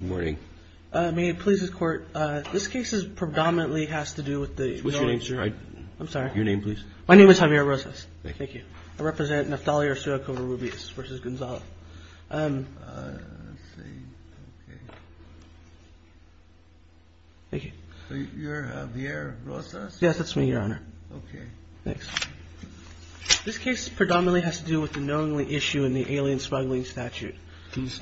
This case predominantly has to do with the knowingly issue in the alien smuggling statute. This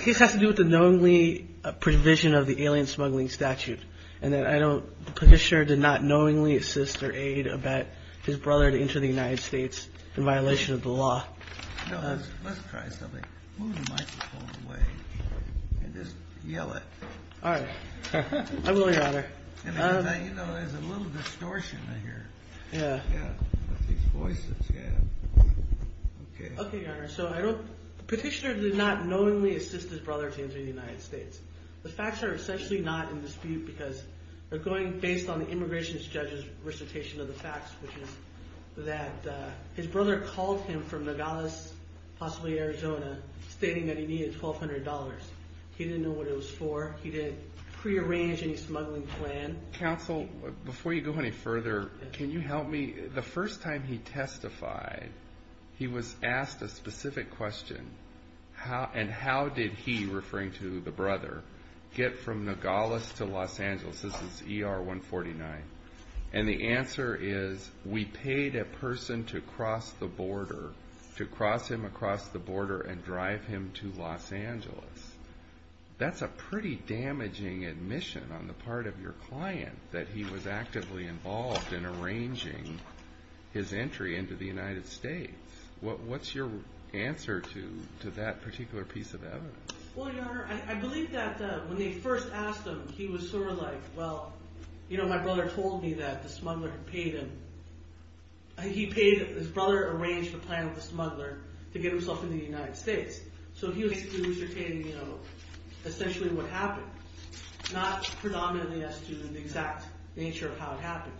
case has to do with the knowingly provision of the alien smuggling statute and that the petitioner did not knowingly assist or aid or abet his brother to enter the United States in violation of the law. Petitioner did not knowingly assist his brother to enter the United States. The facts are essentially not in dispute because they're going based on the immigration judge's recitation of the facts, which is that his brother called him from Nogales, possibly Arizona, stating that he needed $1,200. He didn't know what it was for. He didn't prearrange any smuggling plan. Counsel, before you go any further, can you help me? The first time he testified, he was asked a specific question, and how did he, referring to the brother, get from Nogales to Los Angeles? This is ER 149, and the answer is, we paid a person to cross the border, to cross him across the border and drive him to Los Angeles. That's a pretty damaging admission on the part of your client that he was actively involved in arranging his entry into the United States. What's your answer to that particular piece of evidence? Well, Your Honor, I believe that when they first asked him, he was sort of like, well, my brother told me that the smuggler had paid him. He paid his brother to arrange the plan with the smuggler to get himself into the United States. So he was recitating essentially what happened, not predominantly as to the exact nature of how it happened.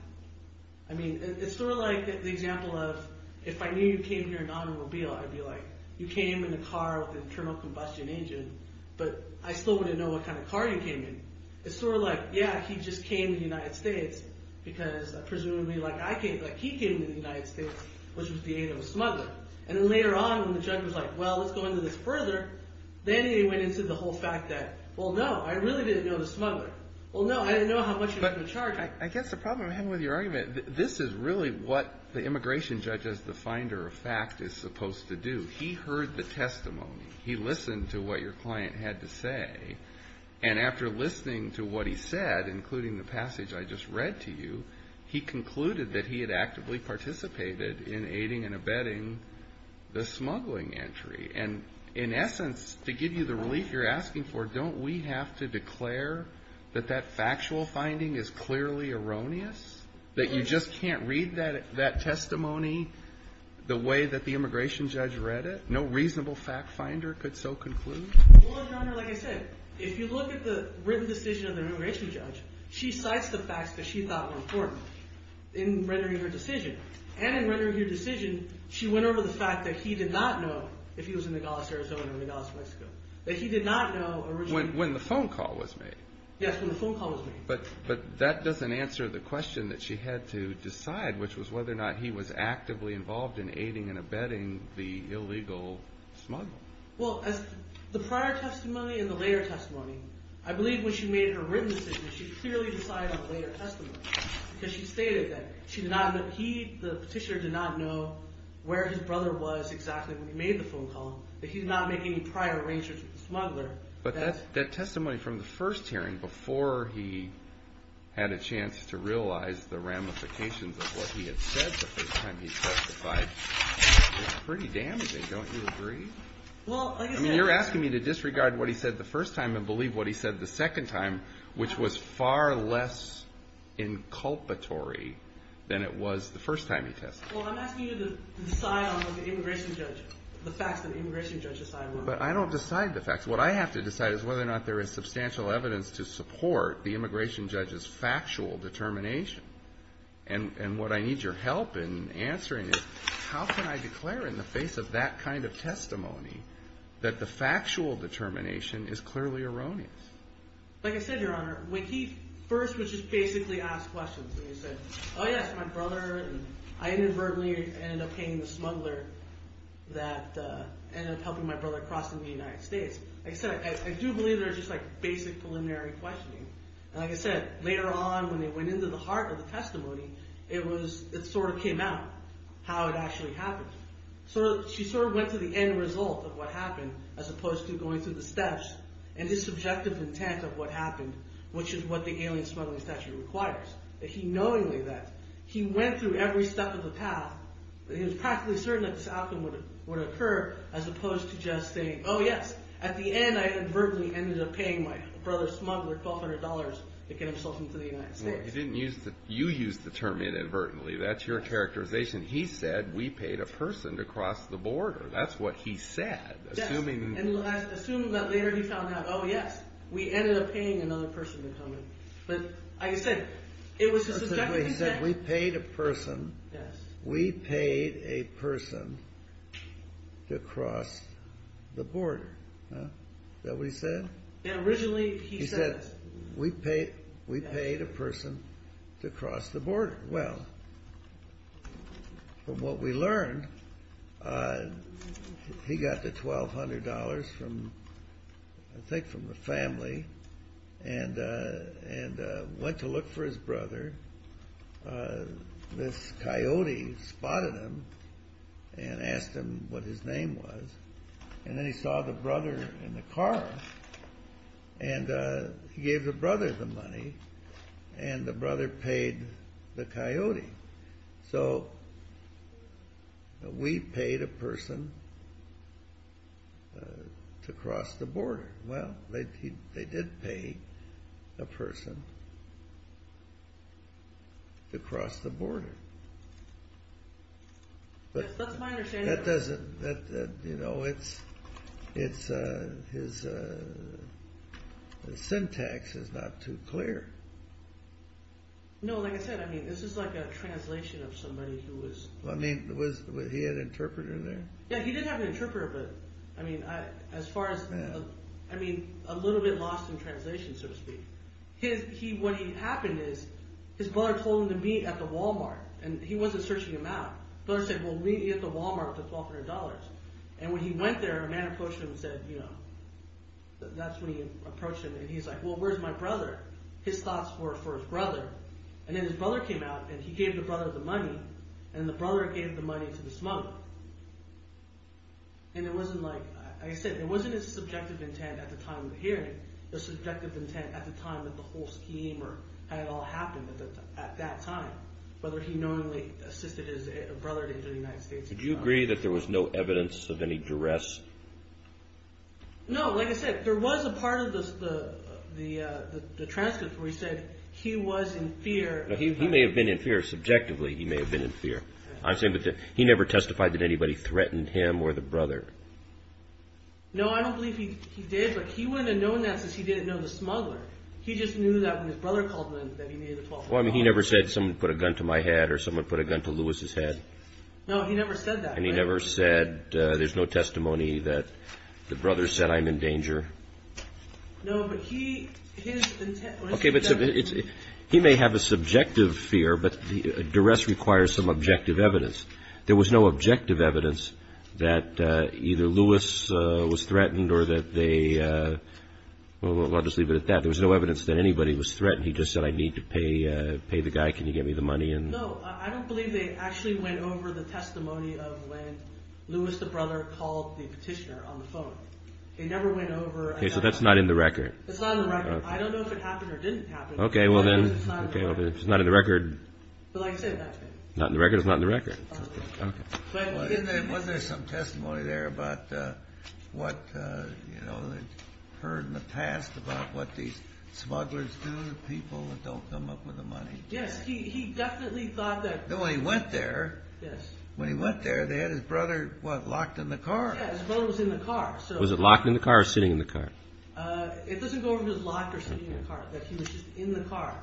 I mean, it's sort of like the example of, if I knew you came here in an automobile, I'd be like, you came in a car with an internal combustion engine, but I still wouldn't know what kind of car you came in. It's sort of like, yeah, he just came to the United States because, presumably, like he came to the United States, which was the aid of a smuggler. And then later on, when the judge was like, well, let's go into this further, then he went into the whole fact that, well, no, I really didn't know the smuggler. Well, no, I didn't know how much he was going to charge. I guess the problem I have with your argument, this is really what the immigration judge as the finder of fact is supposed to do. He heard the testimony. He listened to what your client had to say. And after listening to what he said, including the passage I just read to you, he concluded that he had actively participated in aiding and abetting the smuggling entry. And in essence, to give you the relief you're asking for, don't we have to declare that that factual finding is clearly erroneous? That you just can't read that testimony the way that the immigration judge read it? No reasonable fact finder could so conclude? Well, Your Honor, like I said, if you look at the written decision of the immigration judge, she cites the facts that she thought were important in rendering her decision. And in rendering her decision, she went over the fact that he did not know if he was in Nogales, Arizona or Nogales, Mexico. That he did not know originally. When the phone call was made. Yes, when the phone call was made. But that doesn't answer the question that she had to decide, which was whether or not he was actively involved in aiding and abetting the illegal smuggling. Well, as the prior testimony and the later testimony, I believe when she made her written decision, she clearly decided on later testimony. Because she stated that the petitioner did not know where his brother was exactly when he made the phone call. That he did not make any prior arrangements with the smuggler. But that testimony from the first hearing, before he had a chance to realize the ramifications of what he had said the first time he testified, was pretty damaging, don't you agree? I mean, you're asking me to disregard what he said the first time and believe what he said the second time, which was far less inculpatory than it was the first time he testified. Well, I'm asking you to decide on what the immigration judge, the facts that the immigration judge decided on. But I don't decide the facts. What I have to decide is whether or not there is substantial evidence to support the immigration judge's factual determination. And what I need your help in answering is, how can I declare in the face of that kind of testimony that the factual determination is clearly erroneous? Like I said, Your Honor, when he first was just basically asked questions, and he said, oh yeah, it's my brother. And I inadvertently ended up paying the smuggler that ended up helping my brother cross into the United States. Like I said, I do believe there's just like basic preliminary questioning. And like I said, later on, when they went into the heart of the testimony, it sort of came out, how it actually happened. She sort of went to the end result of what happened, as opposed to going through the steps and his subjective intent of what happened, which is what the alien smuggling statute requires. That he knowingly, that he went through every step of the path, that he was practically certain that this outcome would occur, as opposed to just saying, oh yes, at the end, I inadvertently ended up paying my brother smuggler $1,200 to get himself into the United States. You didn't use the, you used the term inadvertently. That's your characterization. He said, we paid a person to cross the border. That's what he said. Assuming that later he found out, oh yes, we ended up paying another person to come in. But like I said, it was a subjective intent. He said, we paid a person, we paid a person to cross the border. Is that what he said? Yeah, originally he said. He said, we paid a person to cross the border. Well, from what we learned, he got the $1,200 from, I think from the family, and went to look for his brother. This coyote spotted him and asked him what his name was. And then he saw the brother in the car. And he gave the brother the money, and the brother paid the coyote. So, we paid a person to cross the border. Well, they did pay a person to cross the border. That's my understanding. That doesn't, you know, it's, his syntax is not too clear. No, like I said, I mean, this is like a translation of somebody who was... I mean, was he an interpreter there? Yeah, he did have an interpreter, but I mean, as far as... I mean, a little bit lost in translation, so to speak. What happened is, his brother told him to meet at the Walmart. And he wasn't searching him out. His brother said, well, meet me at the Walmart for $1,200. And when he went there, a man approached him and said, you know... That's when he approached him, and he's like, well, where's my brother? His thoughts were for his brother. And then his brother came out, and he gave the brother the money. And the brother gave the money to this mother. And it wasn't like, like I said, it wasn't his subjective intent at the time of the hearing. The subjective intent at the time that the whole scheme had all happened at that time. Whether he knowingly assisted his brother into the United States... Would you agree that there was no evidence of any duress? No, like I said, there was a part of the transcript where he said he was in fear... He may have been in fear subjectively. He may have been in fear. He never testified that anybody threatened him or the brother. No, I don't believe he did. He wouldn't have known that since he didn't know the smuggler. He just knew that when his brother called him, that he needed the $1,200. He never said, someone put a gun to my head, or someone put a gun to Louis' head? No, he never said that. And he never said, there's no testimony that the brother said, I'm in danger? No, but he... He may have a subjective fear, but duress requires some objective evidence. There was no objective evidence that either Louis was threatened or that they... I'll just leave it at that. There was no evidence that anybody was threatened. He just said, I need to pay the guy. Can you get me the money? No, I don't believe they actually went over the testimony of when Louis, the brother, called the petitioner on the phone. They never went over... Okay, so that's not in the record. That's not in the record. I don't know if it happened or didn't happen, but it's not in the record. It's not in the record. But like I said, that's not in the record. It's not in the record. Okay. Wasn't there some testimony there about what, you know, heard in the past about what these smugglers do to people that don't come up with the money? Yes, he definitely thought that... When he went there... Yes. When he went there, they had his brother, what, locked in the car. Yeah, his brother was in the car. Was it locked in the car or sitting in the car? It doesn't go over his life or sitting in the car, that he was just in the car.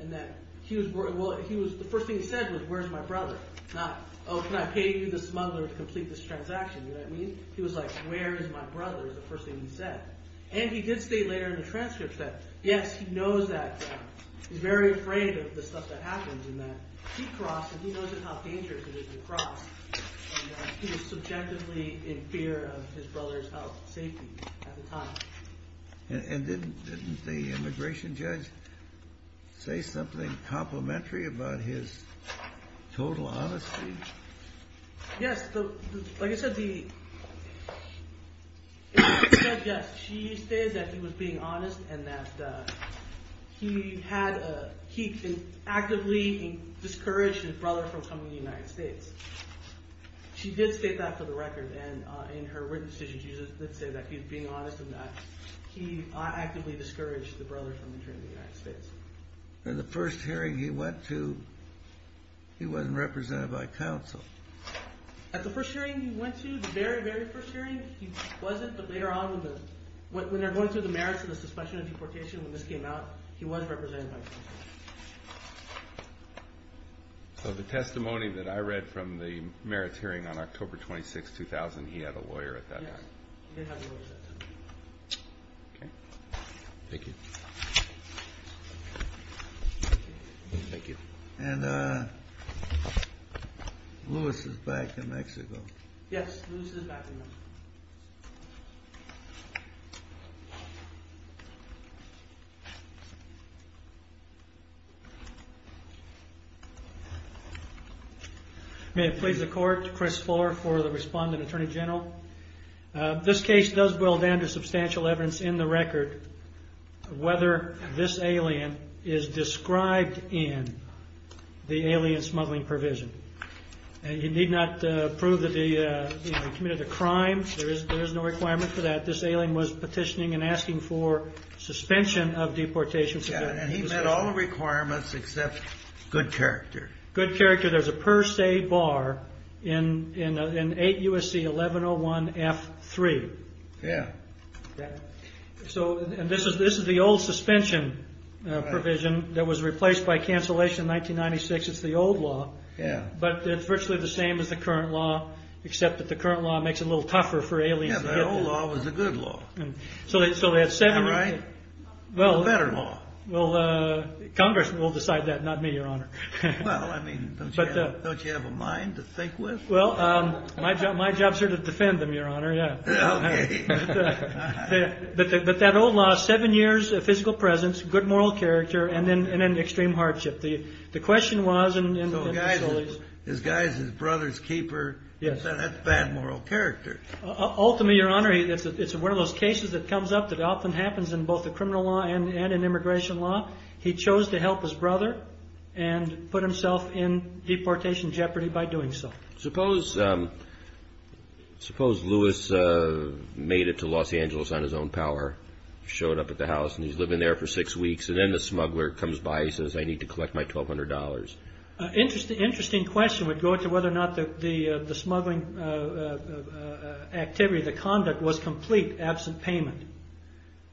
And that he was... Well, the first thing he said was, where's my brother? Not, oh, can I pay you, the smuggler, to complete this transaction? You know what I mean? He was like, where is my brother, is the first thing he said. And he did state later in the transcript that, yes, he knows that... He's very afraid of the stuff that happens and that he crossed, and he knows how dangerous it is to cross. He was subjectively in fear of his brother's health and safety at the time. And didn't the immigration judge say something complimentary about his total honesty? Yes. Like I said, the immigration judge, yes, she stated that he was being honest and that he actively discouraged his brother from coming to the United States. She did state that for the record. And in her written decision, she did say that he was being honest and that he actively discouraged the brother from entering the United States. In the first hearing he went to, he wasn't represented by counsel. At the first hearing he went to, the very, very first hearing, he wasn't. But later on, when they're going through the merits of the suspension and deportation, when this came out, he was represented by counsel. So the testimony that I read from the merits hearing on October 26, 2000, he had a lawyer at that time? Yes, he did have a lawyer at that time. Okay. Thank you. And Lewis is back in Mexico. Yes, Lewis is back in Mexico. May it please the Court, Chris Fuller for the respondent, Attorney General. This case does boil down to substantial evidence in the record whether this alien is described in the alien smuggling provision. You need not prove that he committed a crime. There is no requirement for that. This alien was petitioning and asking for suspension of deportation. Yes, and he met all the requirements except good character. Good character. There's a per se bar in 8 U.S.C. 1101F3. Yes. And this is the old suspension provision that was replaced by cancellation in 1996. It's the old law. Yes. But it's virtually the same as the current law except that the current law makes it a little tougher for aliens to get there. Yes, the old law was the good law. Is that right? The better law. Well, Congress will decide that, not me, Your Honor. Well, I mean, don't you have a mind to think with? Well, my job is here to defend them, Your Honor. Okay. But that old law, seven years of physical presence, good moral character, and then extreme hardship. The question was in the facilities. So the guy is his brother's keeper. That's bad moral character. Ultimately, Your Honor, it's one of those cases that comes up that often happens in both the criminal law and in immigration law. He chose to help his brother and put himself in deportation jeopardy by doing so. Suppose Lewis made it to Los Angeles on his own power, showed up at the house, and he's living there for six weeks, and then the smuggler comes by and says, I need to collect my $1,200. Interesting question would go to whether or not the smuggling activity, the conduct, was complete, absent payment.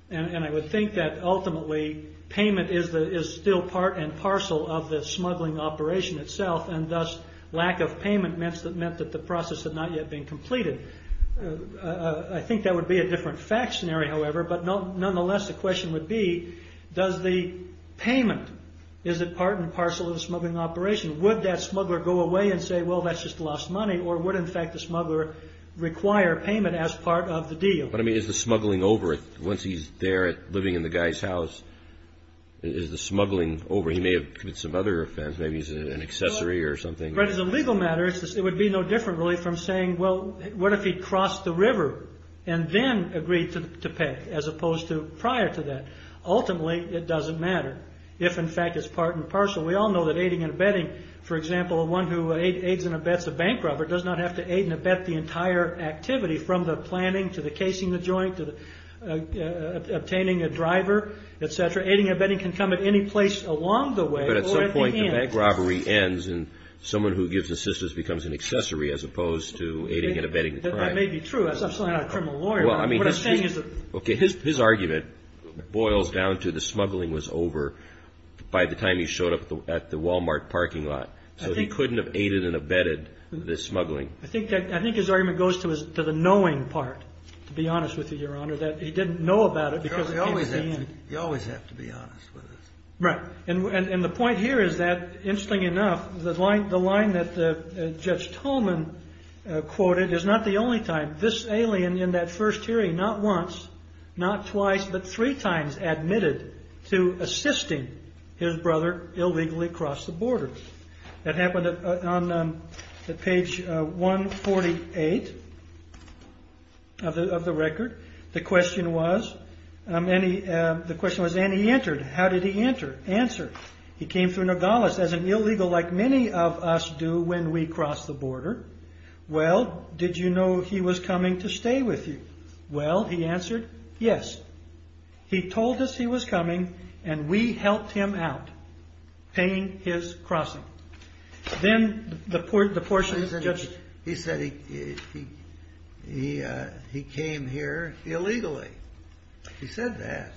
And I would think that, ultimately, payment is still part and parcel of the smuggling operation itself, and thus lack of payment meant that the process had not yet been completed. I think that would be a different fact scenario, however, but nonetheless the question would be, does the payment, is it part and parcel of the smuggling operation? Would that smuggler go away and say, well, that's just lost money, or would, in fact, the smuggler require payment as part of the deal? But, I mean, is the smuggling over once he's there living in the guy's house? Is the smuggling over? He may have committed some other offense. Maybe he's an accessory or something. But as a legal matter, it would be no different, really, from saying, well, what if he crossed the river and then agreed to pay as opposed to prior to that? Ultimately, it doesn't matter if, in fact, it's part and parcel. We all know that aiding and abetting, for example, one who aids and abets a bank robber does not have to aid and abet the entire activity, from the planning to the casing the joint to obtaining a driver, et cetera. Aiding and abetting can come at any place along the way or at the end. But at some point the bank robbery ends and someone who gives assistance becomes an accessory as opposed to aiding and abetting the crime. That may be true. I'm certainly not a criminal lawyer. What I'm saying is that- Okay. His argument boils down to the smuggling was over by the time he showed up at the Wal-Mart parking lot. So he couldn't have aided and abetted the smuggling. I think his argument goes to the knowing part, to be honest with you, Your Honor, that he didn't know about it because it came at the end. You always have to be honest with us. Right. And the point here is that, interestingly enough, the line that Judge Tolman quoted is not the only time. This alien in that first hearing not once, not twice, but three times admitted to assisting his brother illegally across the border. That happened on page 148 of the record. The question was, and he entered. How did he enter? Answer. He came through Nogales as an illegal like many of us do when we cross the border. Well, did you know he was coming to stay with you? Well, he answered, yes. He told us he was coming and we helped him out paying his crossing. Then the portion- He said he came here illegally. He said that.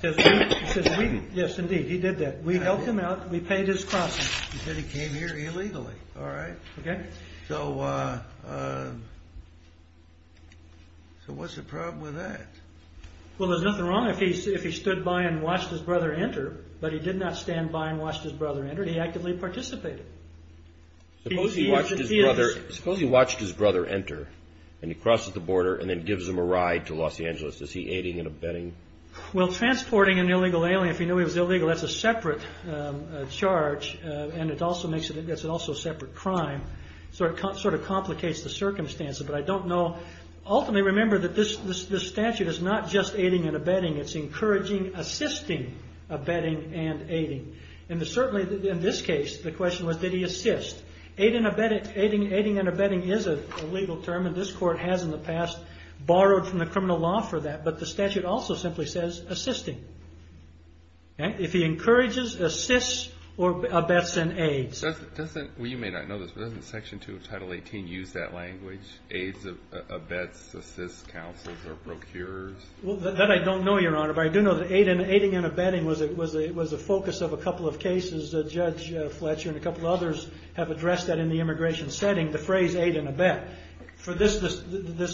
Yes, indeed, he did that. We helped him out. We paid his crossing. He said he came here illegally. All right. So what's the problem with that? Well, there's nothing wrong if he stood by and watched his brother enter, but he did not stand by and watch his brother enter. He actively participated. Suppose he watched his brother enter and he crosses the border and then gives him a ride to Los Angeles. Is he aiding and abetting? Well, transporting an illegal alien, if you knew he was illegal, that's a separate charge. It's also a separate crime. It sort of complicates the circumstances, but I don't know. Ultimately, remember that this statute is not just aiding and abetting. It's encouraging, assisting, abetting, and aiding. Certainly, in this case, the question was, did he assist? Aiding and abetting is a legal term, and this court has in the past borrowed from the criminal law for that. But the statute also simply says assisting. If he encourages, assists, or abets and aids. Well, you may not know this, but doesn't Section 2 of Title 18 use that language? Aids, abets, assists, counsels, or procures? Well, that I don't know, Your Honor, but I do know that aiding and abetting was a focus of a couple of cases. Judge Fletcher and a couple of others have addressed that in the immigration setting, the phrase aid and abet. This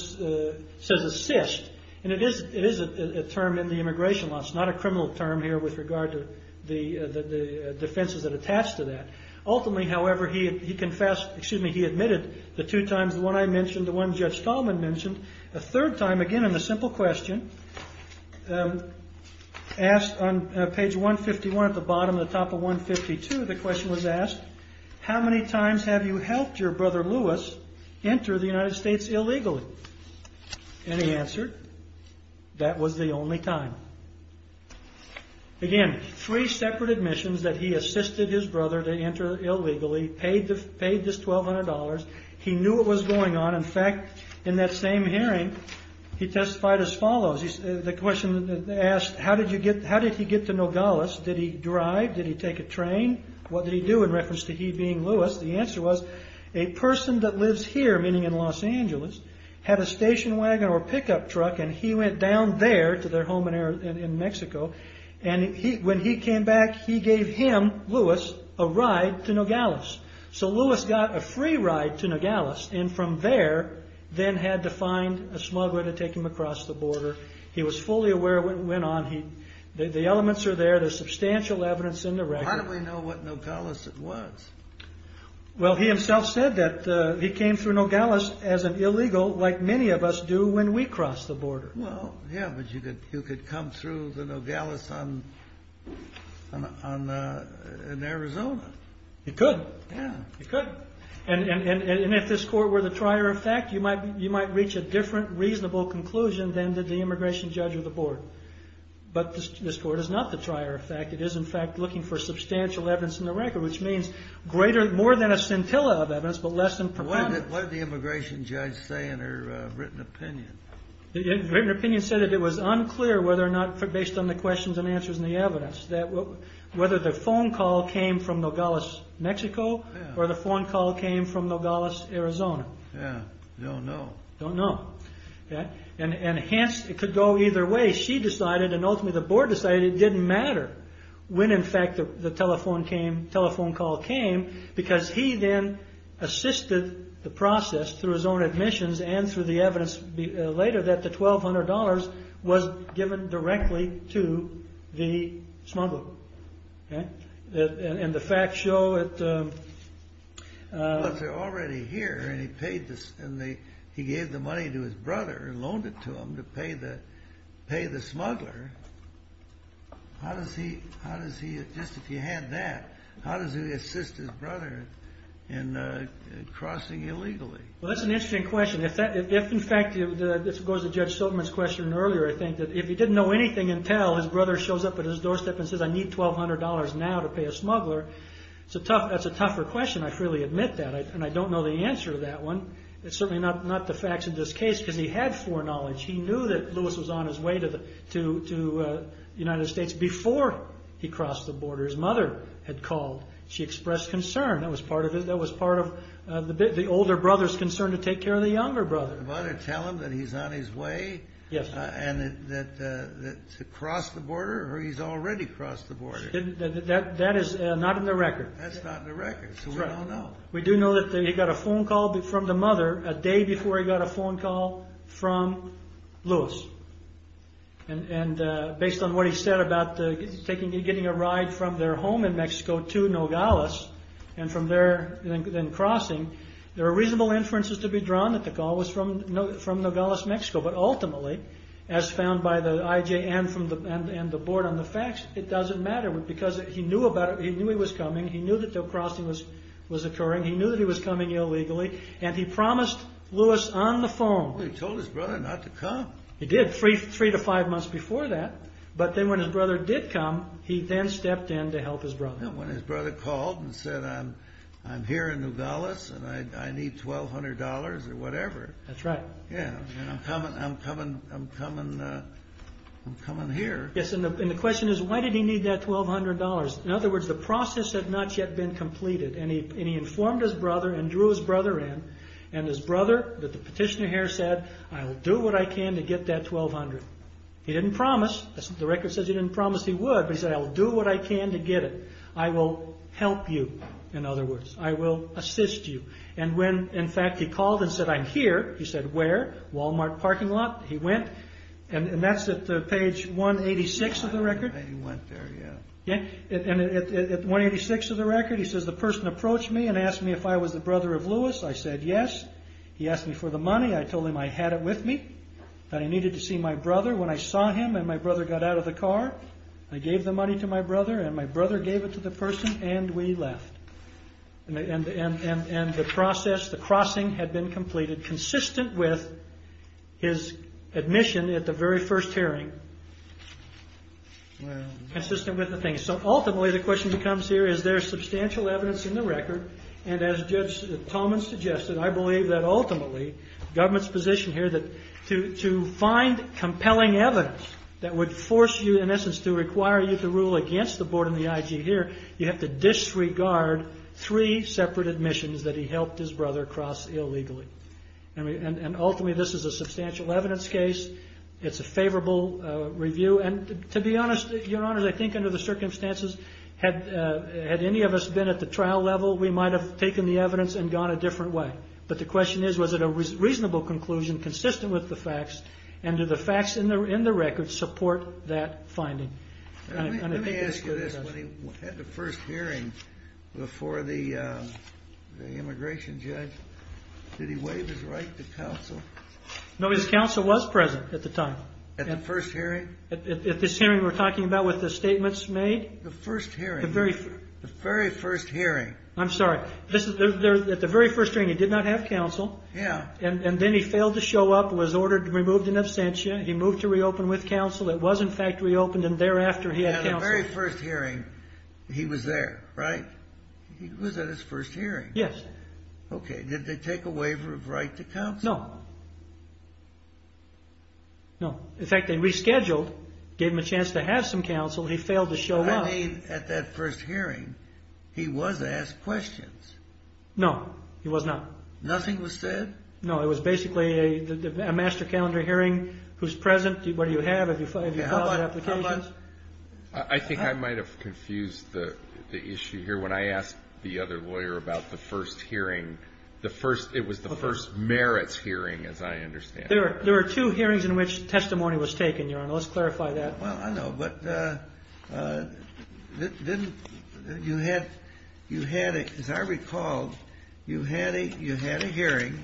says assist, and it is a term in the immigration law. It's not a criminal term here with regard to the defenses that attach to that. Ultimately, however, he admitted the two times, the one I mentioned, the one Judge Stallman mentioned. A third time, again, in the simple question, asked on page 151 at the bottom, the top of 152, the question was asked, how many times have you helped your brother Louis enter the United States illegally? And he answered, that was the only time. Again, three separate admissions that he assisted his brother to enter illegally, paid this $1,200. He knew what was going on. In fact, in that same hearing, he testified as follows. The question asked, how did he get to Nogales? Did he drive? Did he take a train? What did he do in reference to he being Louis? The answer was, a person that lives here, meaning in Los Angeles, had a station wagon or pickup truck, and he went down there to their home in Mexico, and when he came back, he gave him, Louis, a ride to Nogales. So Louis got a free ride to Nogales, and from there, then had to find a smuggler to take him across the border. He was fully aware of what went on. The elements are there. There's substantial evidence in the record. How do we know what Nogales it was? Well, he himself said that he came through Nogales as an illegal, like many of us do when we cross the border. Well, yeah, but you could come through the Nogales in Arizona. You could. Yeah. You could. And if this court were the trier of fact, you might reach a different reasonable conclusion than did the immigration judge or the board. But this court is not the trier of fact. It is, in fact, looking for substantial evidence in the record, which means more than a scintilla of evidence, but less than proponents. What did the immigration judge say in her written opinion? The written opinion said that it was unclear whether or not, based on the questions and answers and the evidence, whether the phone call came from Nogales, Mexico, or the phone call came from Nogales, Arizona. Yeah. Don't know. Don't know. And hence, it could go either way. She decided, and ultimately the board decided, it didn't matter when, in fact, the telephone call came, because he then assisted the process through his own admissions and through the evidence later that the $1,200 was given directly to the smuggler. And the facts show it. Well, if they're already here and he gave the money to his brother and loaned it to him to pay the smuggler, how does he, just if he had that, how does he assist his brother in crossing illegally? Well, that's an interesting question. If, in fact, this goes to Judge Silverman's question earlier, I think, that if he didn't know anything until his brother shows up at his doorstep and says, I need $1,200 now to pay a smuggler, that's a tougher question. I freely admit that. And I don't know the answer to that one. It's certainly not the facts of this case, because he had foreknowledge. He knew that Lewis was on his way to the United States before he crossed the border. His mother had called. She expressed concern. That was part of it. That was part of the older brother's concern to take care of the younger brother. To tell him that he's on his way to cross the border, or he's already crossed the border. That is not in the record. That's not in the record, so we don't know. We do know that he got a phone call from the mother a day before he got a phone call from Lewis. And based on what he said about getting a ride from their home in Mexico to Nogales, and then crossing, there are reasonable inferences to be drawn that the call was from Nogales, Mexico. But ultimately, as found by the IJ and the board on the facts, it doesn't matter. Because he knew he was coming. He knew that the crossing was occurring. He knew that he was coming illegally. And he promised Lewis on the phone. He told his brother not to come. He did, three to five months before that. But then when his brother did come, he then stepped in to help his brother. When his brother called and said, I'm here in Nogales, and I need $1,200 or whatever. That's right. Yeah, I'm coming here. Yes, and the question is, why did he need that $1,200? In other words, the process had not yet been completed. And he informed his brother and drew his brother in. And his brother, the petitioner here, said, I'll do what I can to get that $1,200. He didn't promise. The record says he didn't promise he would. But he said, I'll do what I can to get it. I will help you, in other words. I will assist you. And when, in fact, he called and said, I'm here. He said, where? Walmart parking lot. He went. And that's at page 186 of the record. He went there, yeah. I said, yes. He asked me for the money. I told him I had it with me, that I needed to see my brother. When I saw him and my brother got out of the car, I gave the money to my brother. And my brother gave it to the person. And we left. And the process, the crossing, had been completed, consistent with his admission at the very first hearing, consistent with the thing. So ultimately, the question becomes here, is there substantial evidence in the record? And as Judge Tolman suggested, I believe that ultimately, government's position here, that to find compelling evidence that would force you, in essence, to require you to rule against the board and the IG here, you have to disregard three separate admissions that he helped his brother cross illegally. And ultimately, this is a substantial evidence case. It's a favorable review. And to be honest, Your Honors, I think under the circumstances, had any of us been at the trial level, we might have taken the evidence and gone a different way. But the question is, was it a reasonable conclusion, consistent with the facts? And do the facts in the record support that finding? Let me ask you this. When he had the first hearing before the immigration judge, did he waive his right to counsel? No, his counsel was present at the time. At the first hearing? At this hearing we're talking about with the statements made? The first hearing? The very first hearing. I'm sorry. At the very first hearing, he did not have counsel. Yeah. And then he failed to show up, was ordered to be removed in absentia. He moved to reopen with counsel. It was, in fact, reopened. And thereafter, he had counsel. At the very first hearing, he was there, right? He was at his first hearing. Yes. Okay. Did they take a waiver of right to counsel? No. No. In fact, they rescheduled, gave him a chance to have some counsel. He failed to show up. I mean, at that first hearing, he was asked questions. No. He was not. Nothing was said? No. It was basically a master calendar hearing. Who's present? What do you have? Have you filed applications? I think I might have confused the issue here. When I asked the other lawyer about the first hearing, it was the first merits hearing, as I understand it. There were two hearings in which testimony was taken, Your Honor. Let's clarify that. Well, I know. But as I recall, you had a hearing,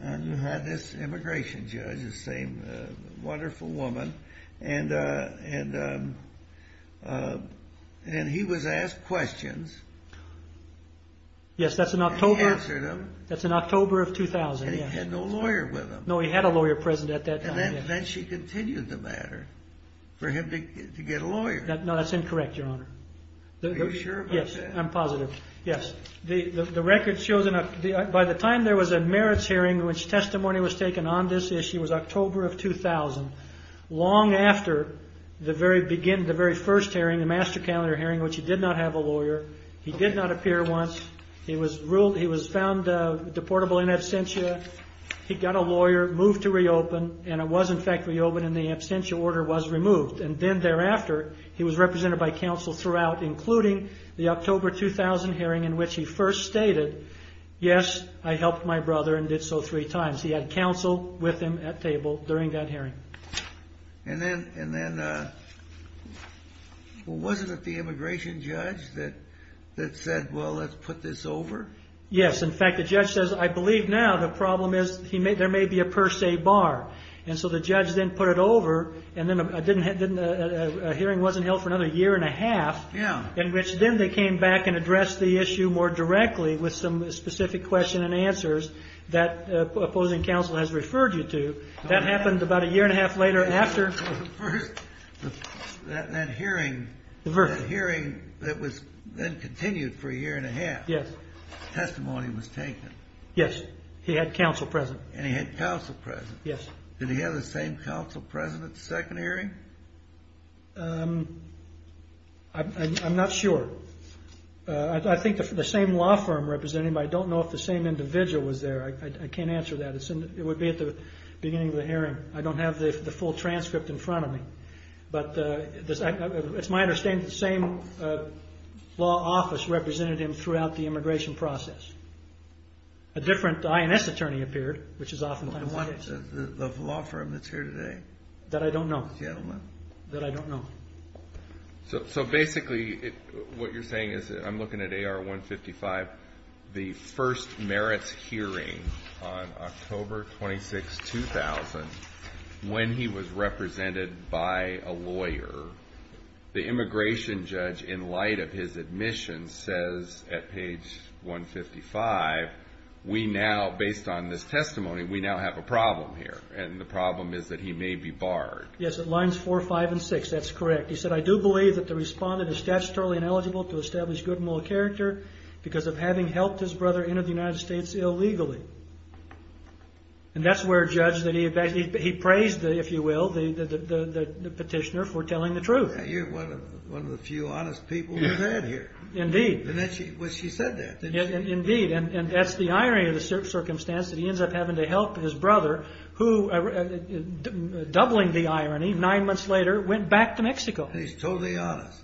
and you had this immigration judge, the same wonderful woman. And he was asked questions. Yes, that's in October. And he answered them. That's in October of 2000, yes. And he had no lawyer with him. No, he had a lawyer present at that time, yes. And then she continued the matter for him to get a lawyer. No, that's incorrect, Your Honor. Are you sure about that? Yes, I'm positive. Yes. The record shows, by the time there was a merits hearing in which testimony was taken on this issue, it was October of 2000, long after the very first hearing, the master calendar hearing, in which he did not have a lawyer. He did not appear once. He was found deportable in absentia. He got a lawyer, moved to reopen, and it was, in fact, reopened, and the absentia order was removed. And then thereafter, he was represented by counsel throughout, including the October 2000 hearing in which he first stated, yes, I helped my brother and did so three times. He had counsel with him at table during that hearing. And then wasn't it the immigration judge that said, well, let's put this over? Yes. In fact, the judge says, I believe now the problem is there may be a per se bar. And so the judge then put it over, and then a hearing wasn't held for another year and a half in which then they came back and addressed the issue more directly with some specific question and answers that opposing counsel has referred you to. That happened about a year and a half later after. The first hearing that was then continued for a year and a half. Yes. Testimony was taken. Yes. He had counsel present. And he had counsel present. Yes. Did he have the same counsel present at the second hearing? I'm not sure. I think the same law firm represented him. I don't know if the same individual was there. I can't answer that. It would be at the beginning of the hearing. I don't have the full transcript in front of me. But it's my understanding that the same law office represented him throughout the immigration process. A different INS attorney appeared, which is oftentimes the case. The law firm that's here today? That I don't know. The gentleman. That I don't know. So basically what you're saying is I'm looking at AR 155. The first merits hearing on October 26, 2000, when he was represented by a lawyer. The immigration judge, in light of his admission, says at page 155, we now, based on this testimony, we now have a problem here. And the problem is that he may be barred. Yes. Lines 4, 5, and 6. That's correct. He said, I do believe that the respondent is statutorily ineligible to establish good moral character because of having helped his brother enter the United States illegally. And that's where a judge, he praised, if you will, the petitioner for telling the truth. You're one of the few honest people we've had here. Indeed. And she said that, didn't she? Indeed. And that's the irony of the circumstance, that he ends up having to help his brother, who, doubling the irony, nine months later, went back to Mexico. He's totally honest.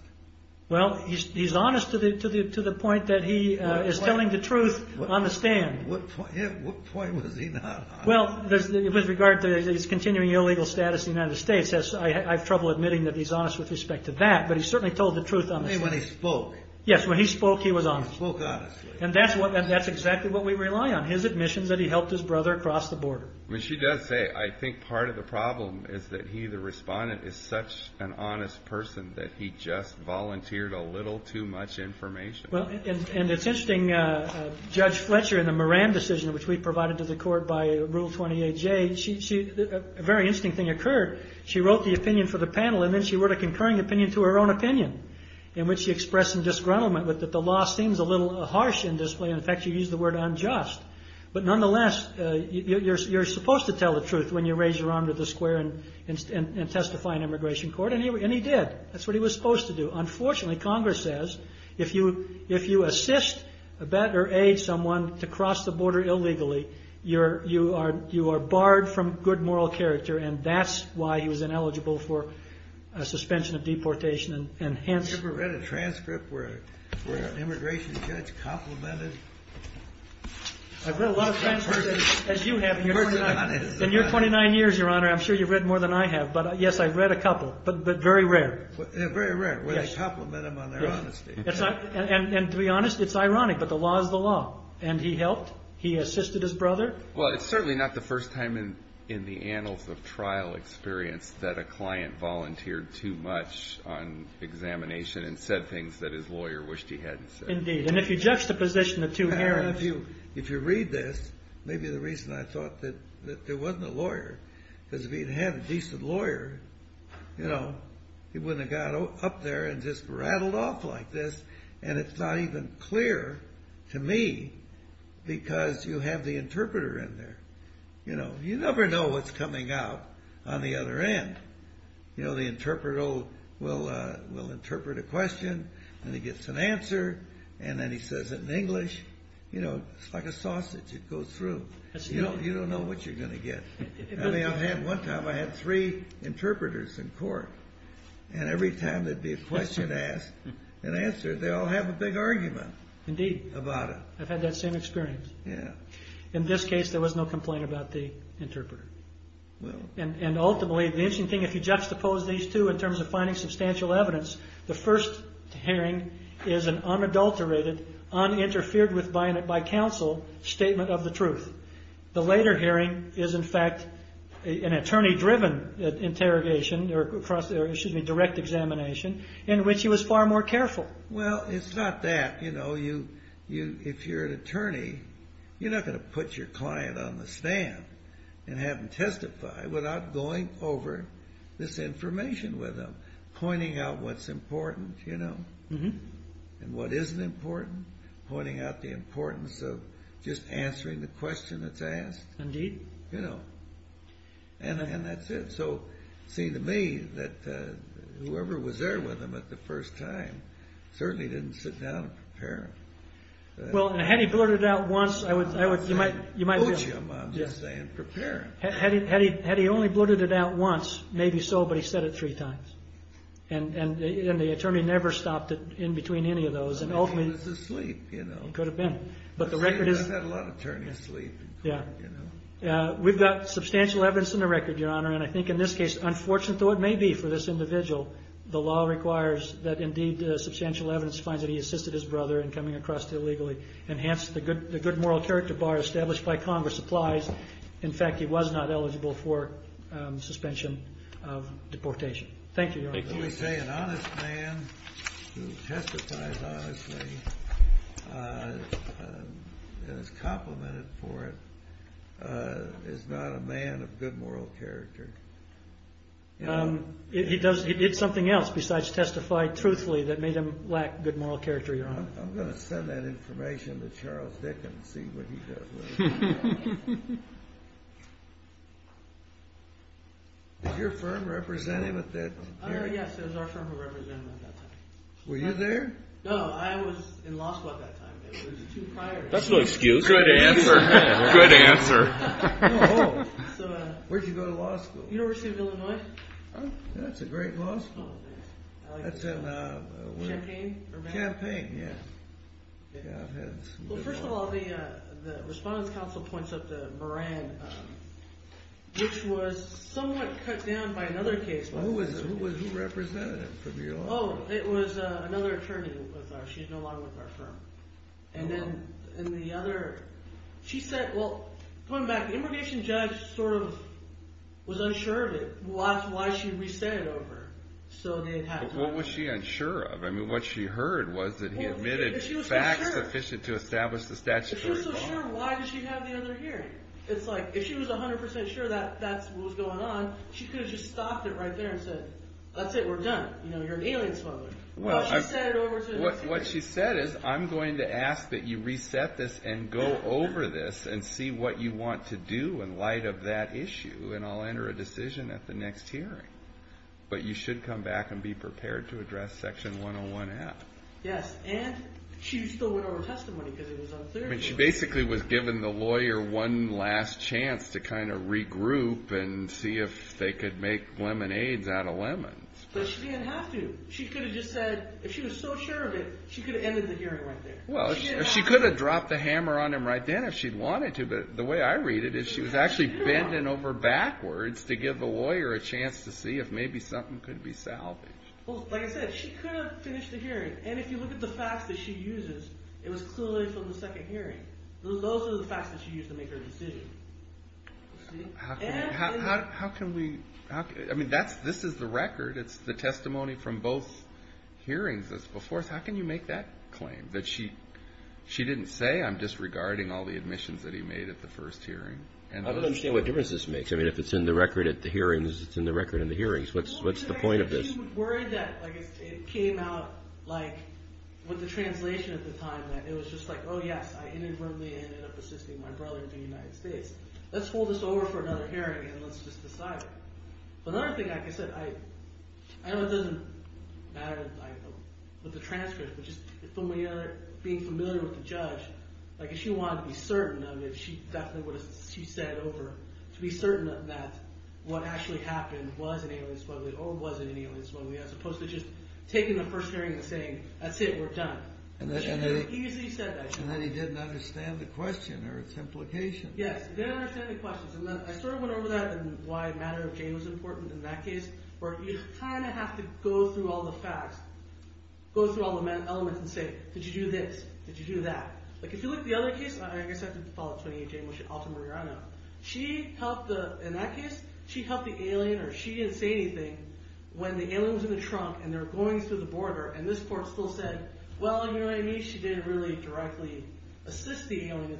Well, he's honest to the point that he is telling the truth on the stand. What point was he not honest? Well, with regard to his continuing illegal status in the United States, I have trouble admitting that he's honest with respect to that. But he certainly told the truth on the stand. When he spoke. Yes, when he spoke, he was honest. He spoke honestly. And that's exactly what we rely on, his admission that he helped his brother cross the border. Well, she does say, I think part of the problem is that he, the respondent, is such an honest person that he just volunteered a little too much information. Well, and it's interesting, Judge Fletcher in the Moran decision, which we provided to the court by Rule 28J, a very interesting thing occurred. She wrote the opinion for the panel, and then she wrote a concurring opinion to her own opinion, in which she expressed some disgruntlement with it. The law seems a little harsh in this way. In fact, she used the word unjust. But nonetheless, you're supposed to tell the truth when you raise your arm to the square and testify in immigration court. And he did. That's what he was supposed to do. Unfortunately, Congress says, if you assist, abet, or aid someone to cross the border illegally, you are barred from good moral character. And that's why he was ineligible for suspension of deportation. Have you ever read a transcript where an immigration judge complimented a person? I've read a lot of transcripts, as you have. In your 29 years, Your Honor, I'm sure you've read more than I have. But yes, I've read a couple, but very rare. Very rare, where they compliment them on their honesty. And to be honest, it's ironic, but the law is the law. And he helped. He assisted his brother. Well, it's certainly not the first time in the annals of trial experience that a client volunteered too much on examination and said things that his lawyer wished he hadn't said. Indeed. And if you juxtaposition the two hearings. If you read this, maybe the reason I thought that there wasn't a lawyer, because if he'd had a decent lawyer, you know, he wouldn't have got up there and just rattled off like this. And it's not even clear to me, because you have the interpreter in there. You know, you never know what's coming out on the other end. You know, the interpreter will interpret a question, and he gets an answer, and then he says it in English. You know, it's like a sausage. It goes through. You don't know what you're going to get. One time, I had three interpreters in court. And every time there'd be a question asked and answered, they all have a big argument about it. Indeed. I've had that same experience. Yeah. In this case, there was no complaint about the interpreter. And ultimately, the interesting thing, if you juxtapose these two in terms of finding substantial evidence, the first hearing is an unadulterated, uninterfered with by counsel statement of the truth. The later hearing is, in fact, an attorney-driven interrogation or, excuse me, direct examination in which he was far more careful. Well, it's not that. You know, if you're an attorney, you're not going to put your client on the stand and have them testify without going over this information with them, pointing out what's important, you know, and what isn't important, pointing out the importance of just answering the question that's asked. Indeed. You know. And that's it. So, it seemed to me that whoever was there with him at the first time certainly didn't sit down and prepare him. Well, had he blurted it out once, I would, you might, you might be able to. I wouldn't say coach him, I'm just saying prepare him. Had he only blurted it out once, maybe so, but he said it three times. And the attorney never stopped in between any of those. He was asleep, you know. Could have been. But the record is. He had a lot of turning sleep. Yeah. You know. We've got substantial evidence in the record, Your Honor. And I think in this case, unfortunate though it may be for this individual, the law requires that indeed substantial evidence finds that he assisted his brother in coming across illegally. And hence, the good moral character bar established by Congress applies. In fact, he was not eligible for suspension of deportation. Thank you, Your Honor. Let me say an honest man who testifies honestly and is complimented for it is not a man of good moral character. He does. He did something else besides testify truthfully that made him lack good moral character, Your Honor. I'm going to send that information to Charles Dickens and see what he does with it. Is your firm representing him at that time? Yes. It was our firm who represented him at that time. Were you there? No. I was in law school at that time. It was two prior years. That's no excuse. Good answer. Good answer. Where did you go to law school? University of Illinois. Champaign. Yes. Well, first of all, the respondent's comment was that he was not eligible for suspension of deportation. The counsel points up to Moran, which was somewhat cut down by another case. Who represented him? Oh, it was another attorney. She's no longer with our firm. And then in the other, she said, well, going back, the immigration judge sort of was unsure of it. Why should we say it over? What was she unsure of? I mean, what she heard was that he admitted facts sufficient to establish the statute. If she was so sure, why did she have the other hearing? It's like, if she was 100% sure that that's what was going on, she could have just stopped it right there and said, that's it. We're done. You're an alien smuggler. Well, what she said is, I'm going to ask that you reset this and go over this and see what you want to do in light of that issue. And I'll enter a decision at the next hearing. But you should come back and be prepared to address Section 101F. Yes. And she still went over testimony because it was unclear to her. I mean, she basically was giving the lawyer one last chance to kind of regroup and see if they could make lemonades out of lemons. But she didn't have to. She could have just said, if she was so sure of it, she could have ended the hearing right there. Well, she could have dropped the hammer on him right then if she'd wanted to. But the way I read it is she was actually bending over backwards to give the lawyer a chance to see if maybe something could be salvaged. Well, like I said, she could have finished the hearing. And if you look at the facts that she uses, it was clearly from the second hearing. Those are the facts that she used to make her decision. How can we – I mean, this is the record. It's the testimony from both hearings that's before us. How can you make that claim that she didn't say, I'm disregarding all the admissions that he made at the first hearing? I don't understand what difference this makes. I mean, if it's in the record at the hearings, it's in the record in the hearings. What's the point of this? She was worried that it came out like with the translation at the time that it was just like, oh, yes. I inadvertently ended up assisting my brother in the United States. Let's hold this over for another hearing and let's just decide it. But another thing, like I said, I know it doesn't matter with the transcript, but just being familiar with the judge, like if she wanted to be certain of it, she definitely would have said it over to be certain of that what actually happened was an alien smuggler or wasn't an alien smuggler as opposed to just taking the first hearing and saying, that's it, we're done. She could have easily said that. And then he didn't understand the question or its implications. Yes, he didn't understand the questions. And then I sort of went over that and why the matter of Jane was important in that case, where you kind of have to go through all the facts, go through all the elements and say, did you do this? Did you do that? Like if you look at the other case, I guess I have to follow up 28-J. She helped the alien or she didn't say anything when the alien was in the trunk and they're going through the border. And this court still said, well, you know what I mean? She didn't really directly assist the alien.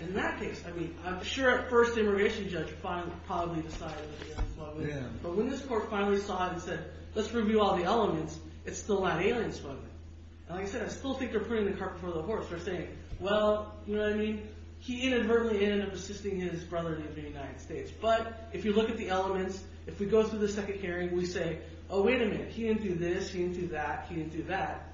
In that case, I mean, I'm sure at first the immigration judge probably decided it was an alien smuggler. But when this court finally saw it and said, let's review all the elements, it's still that alien smuggler. And like I said, I still think they're putting the cart before the horse. They're saying, well, you know what I mean? He inadvertently ended up assisting his brother in the United States. But if you look at the elements, if we go through the second hearing, we say, oh, wait a minute. He didn't do this. He didn't do that. He didn't do that.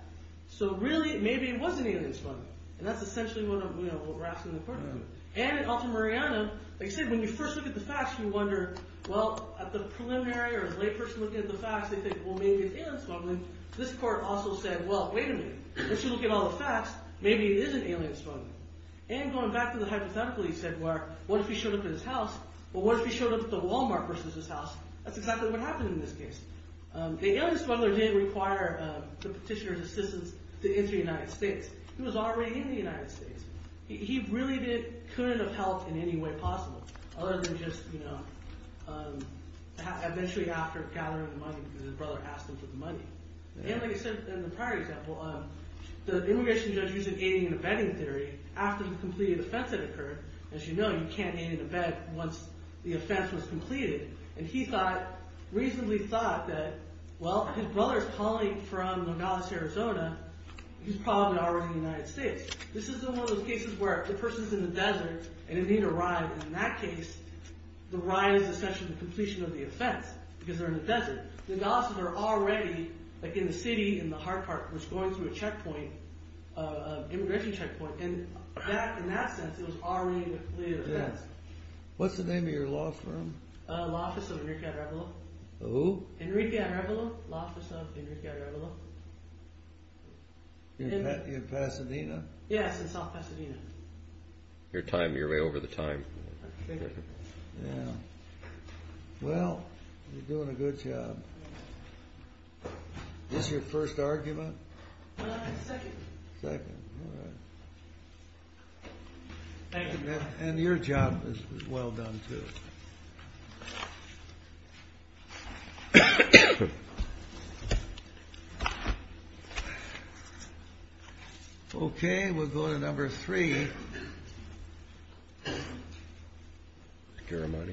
So really, maybe it was an alien smuggler. And that's essentially what we're asking the court to do. And in Altamirano, like I said, when you first look at the facts, you wonder, well, at the preliminary or as a layperson looking at the facts, they think, well, maybe it's alien smuggling. This court also said, well, wait a minute. Once you look at all the facts, maybe it is an alien smuggler. And going back to the hypothetical, he said, well, what if he showed up at his house? Well, what if he showed up at the Walmart versus his house? That's exactly what happened in this case. The alien smuggler did require the petitioner's assistance to enter the United States. He was already in the United States. He really couldn't have helped in any way possible other than just eventually after gathering the money because his brother asked him for the money. And like I said in the prior example, the immigration judge used an aiding and abetting theory. After the completed offense had occurred, as you know, you can't aid and abet once the offense was completed. And he thought, reasonably thought that, well, his brother's calling from Nogales, Arizona. He's probably already in the United States. This is one of those cases where the person's in the desert and they need a ride. And in that case, the ride is essentially the completion of the offense because they're in the desert. The Nogales are already, like in the city in the hard part, was going through a checkpoint, an immigration checkpoint. And in that sense, it was already a complete offense. What's the name of your law firm? Law Office of Enrique Arevalo. Who? Enrique Arevalo, Law Office of Enrique Arevalo. In Pasadena? Yes, in South Pasadena. Your time, you're way over the time. Yeah. Well, you're doing a good job. Is this your first argument? Second. Second, all right. Thank you. And your job is well done, too. Okay, we'll go to number three. Caramani? Yeah.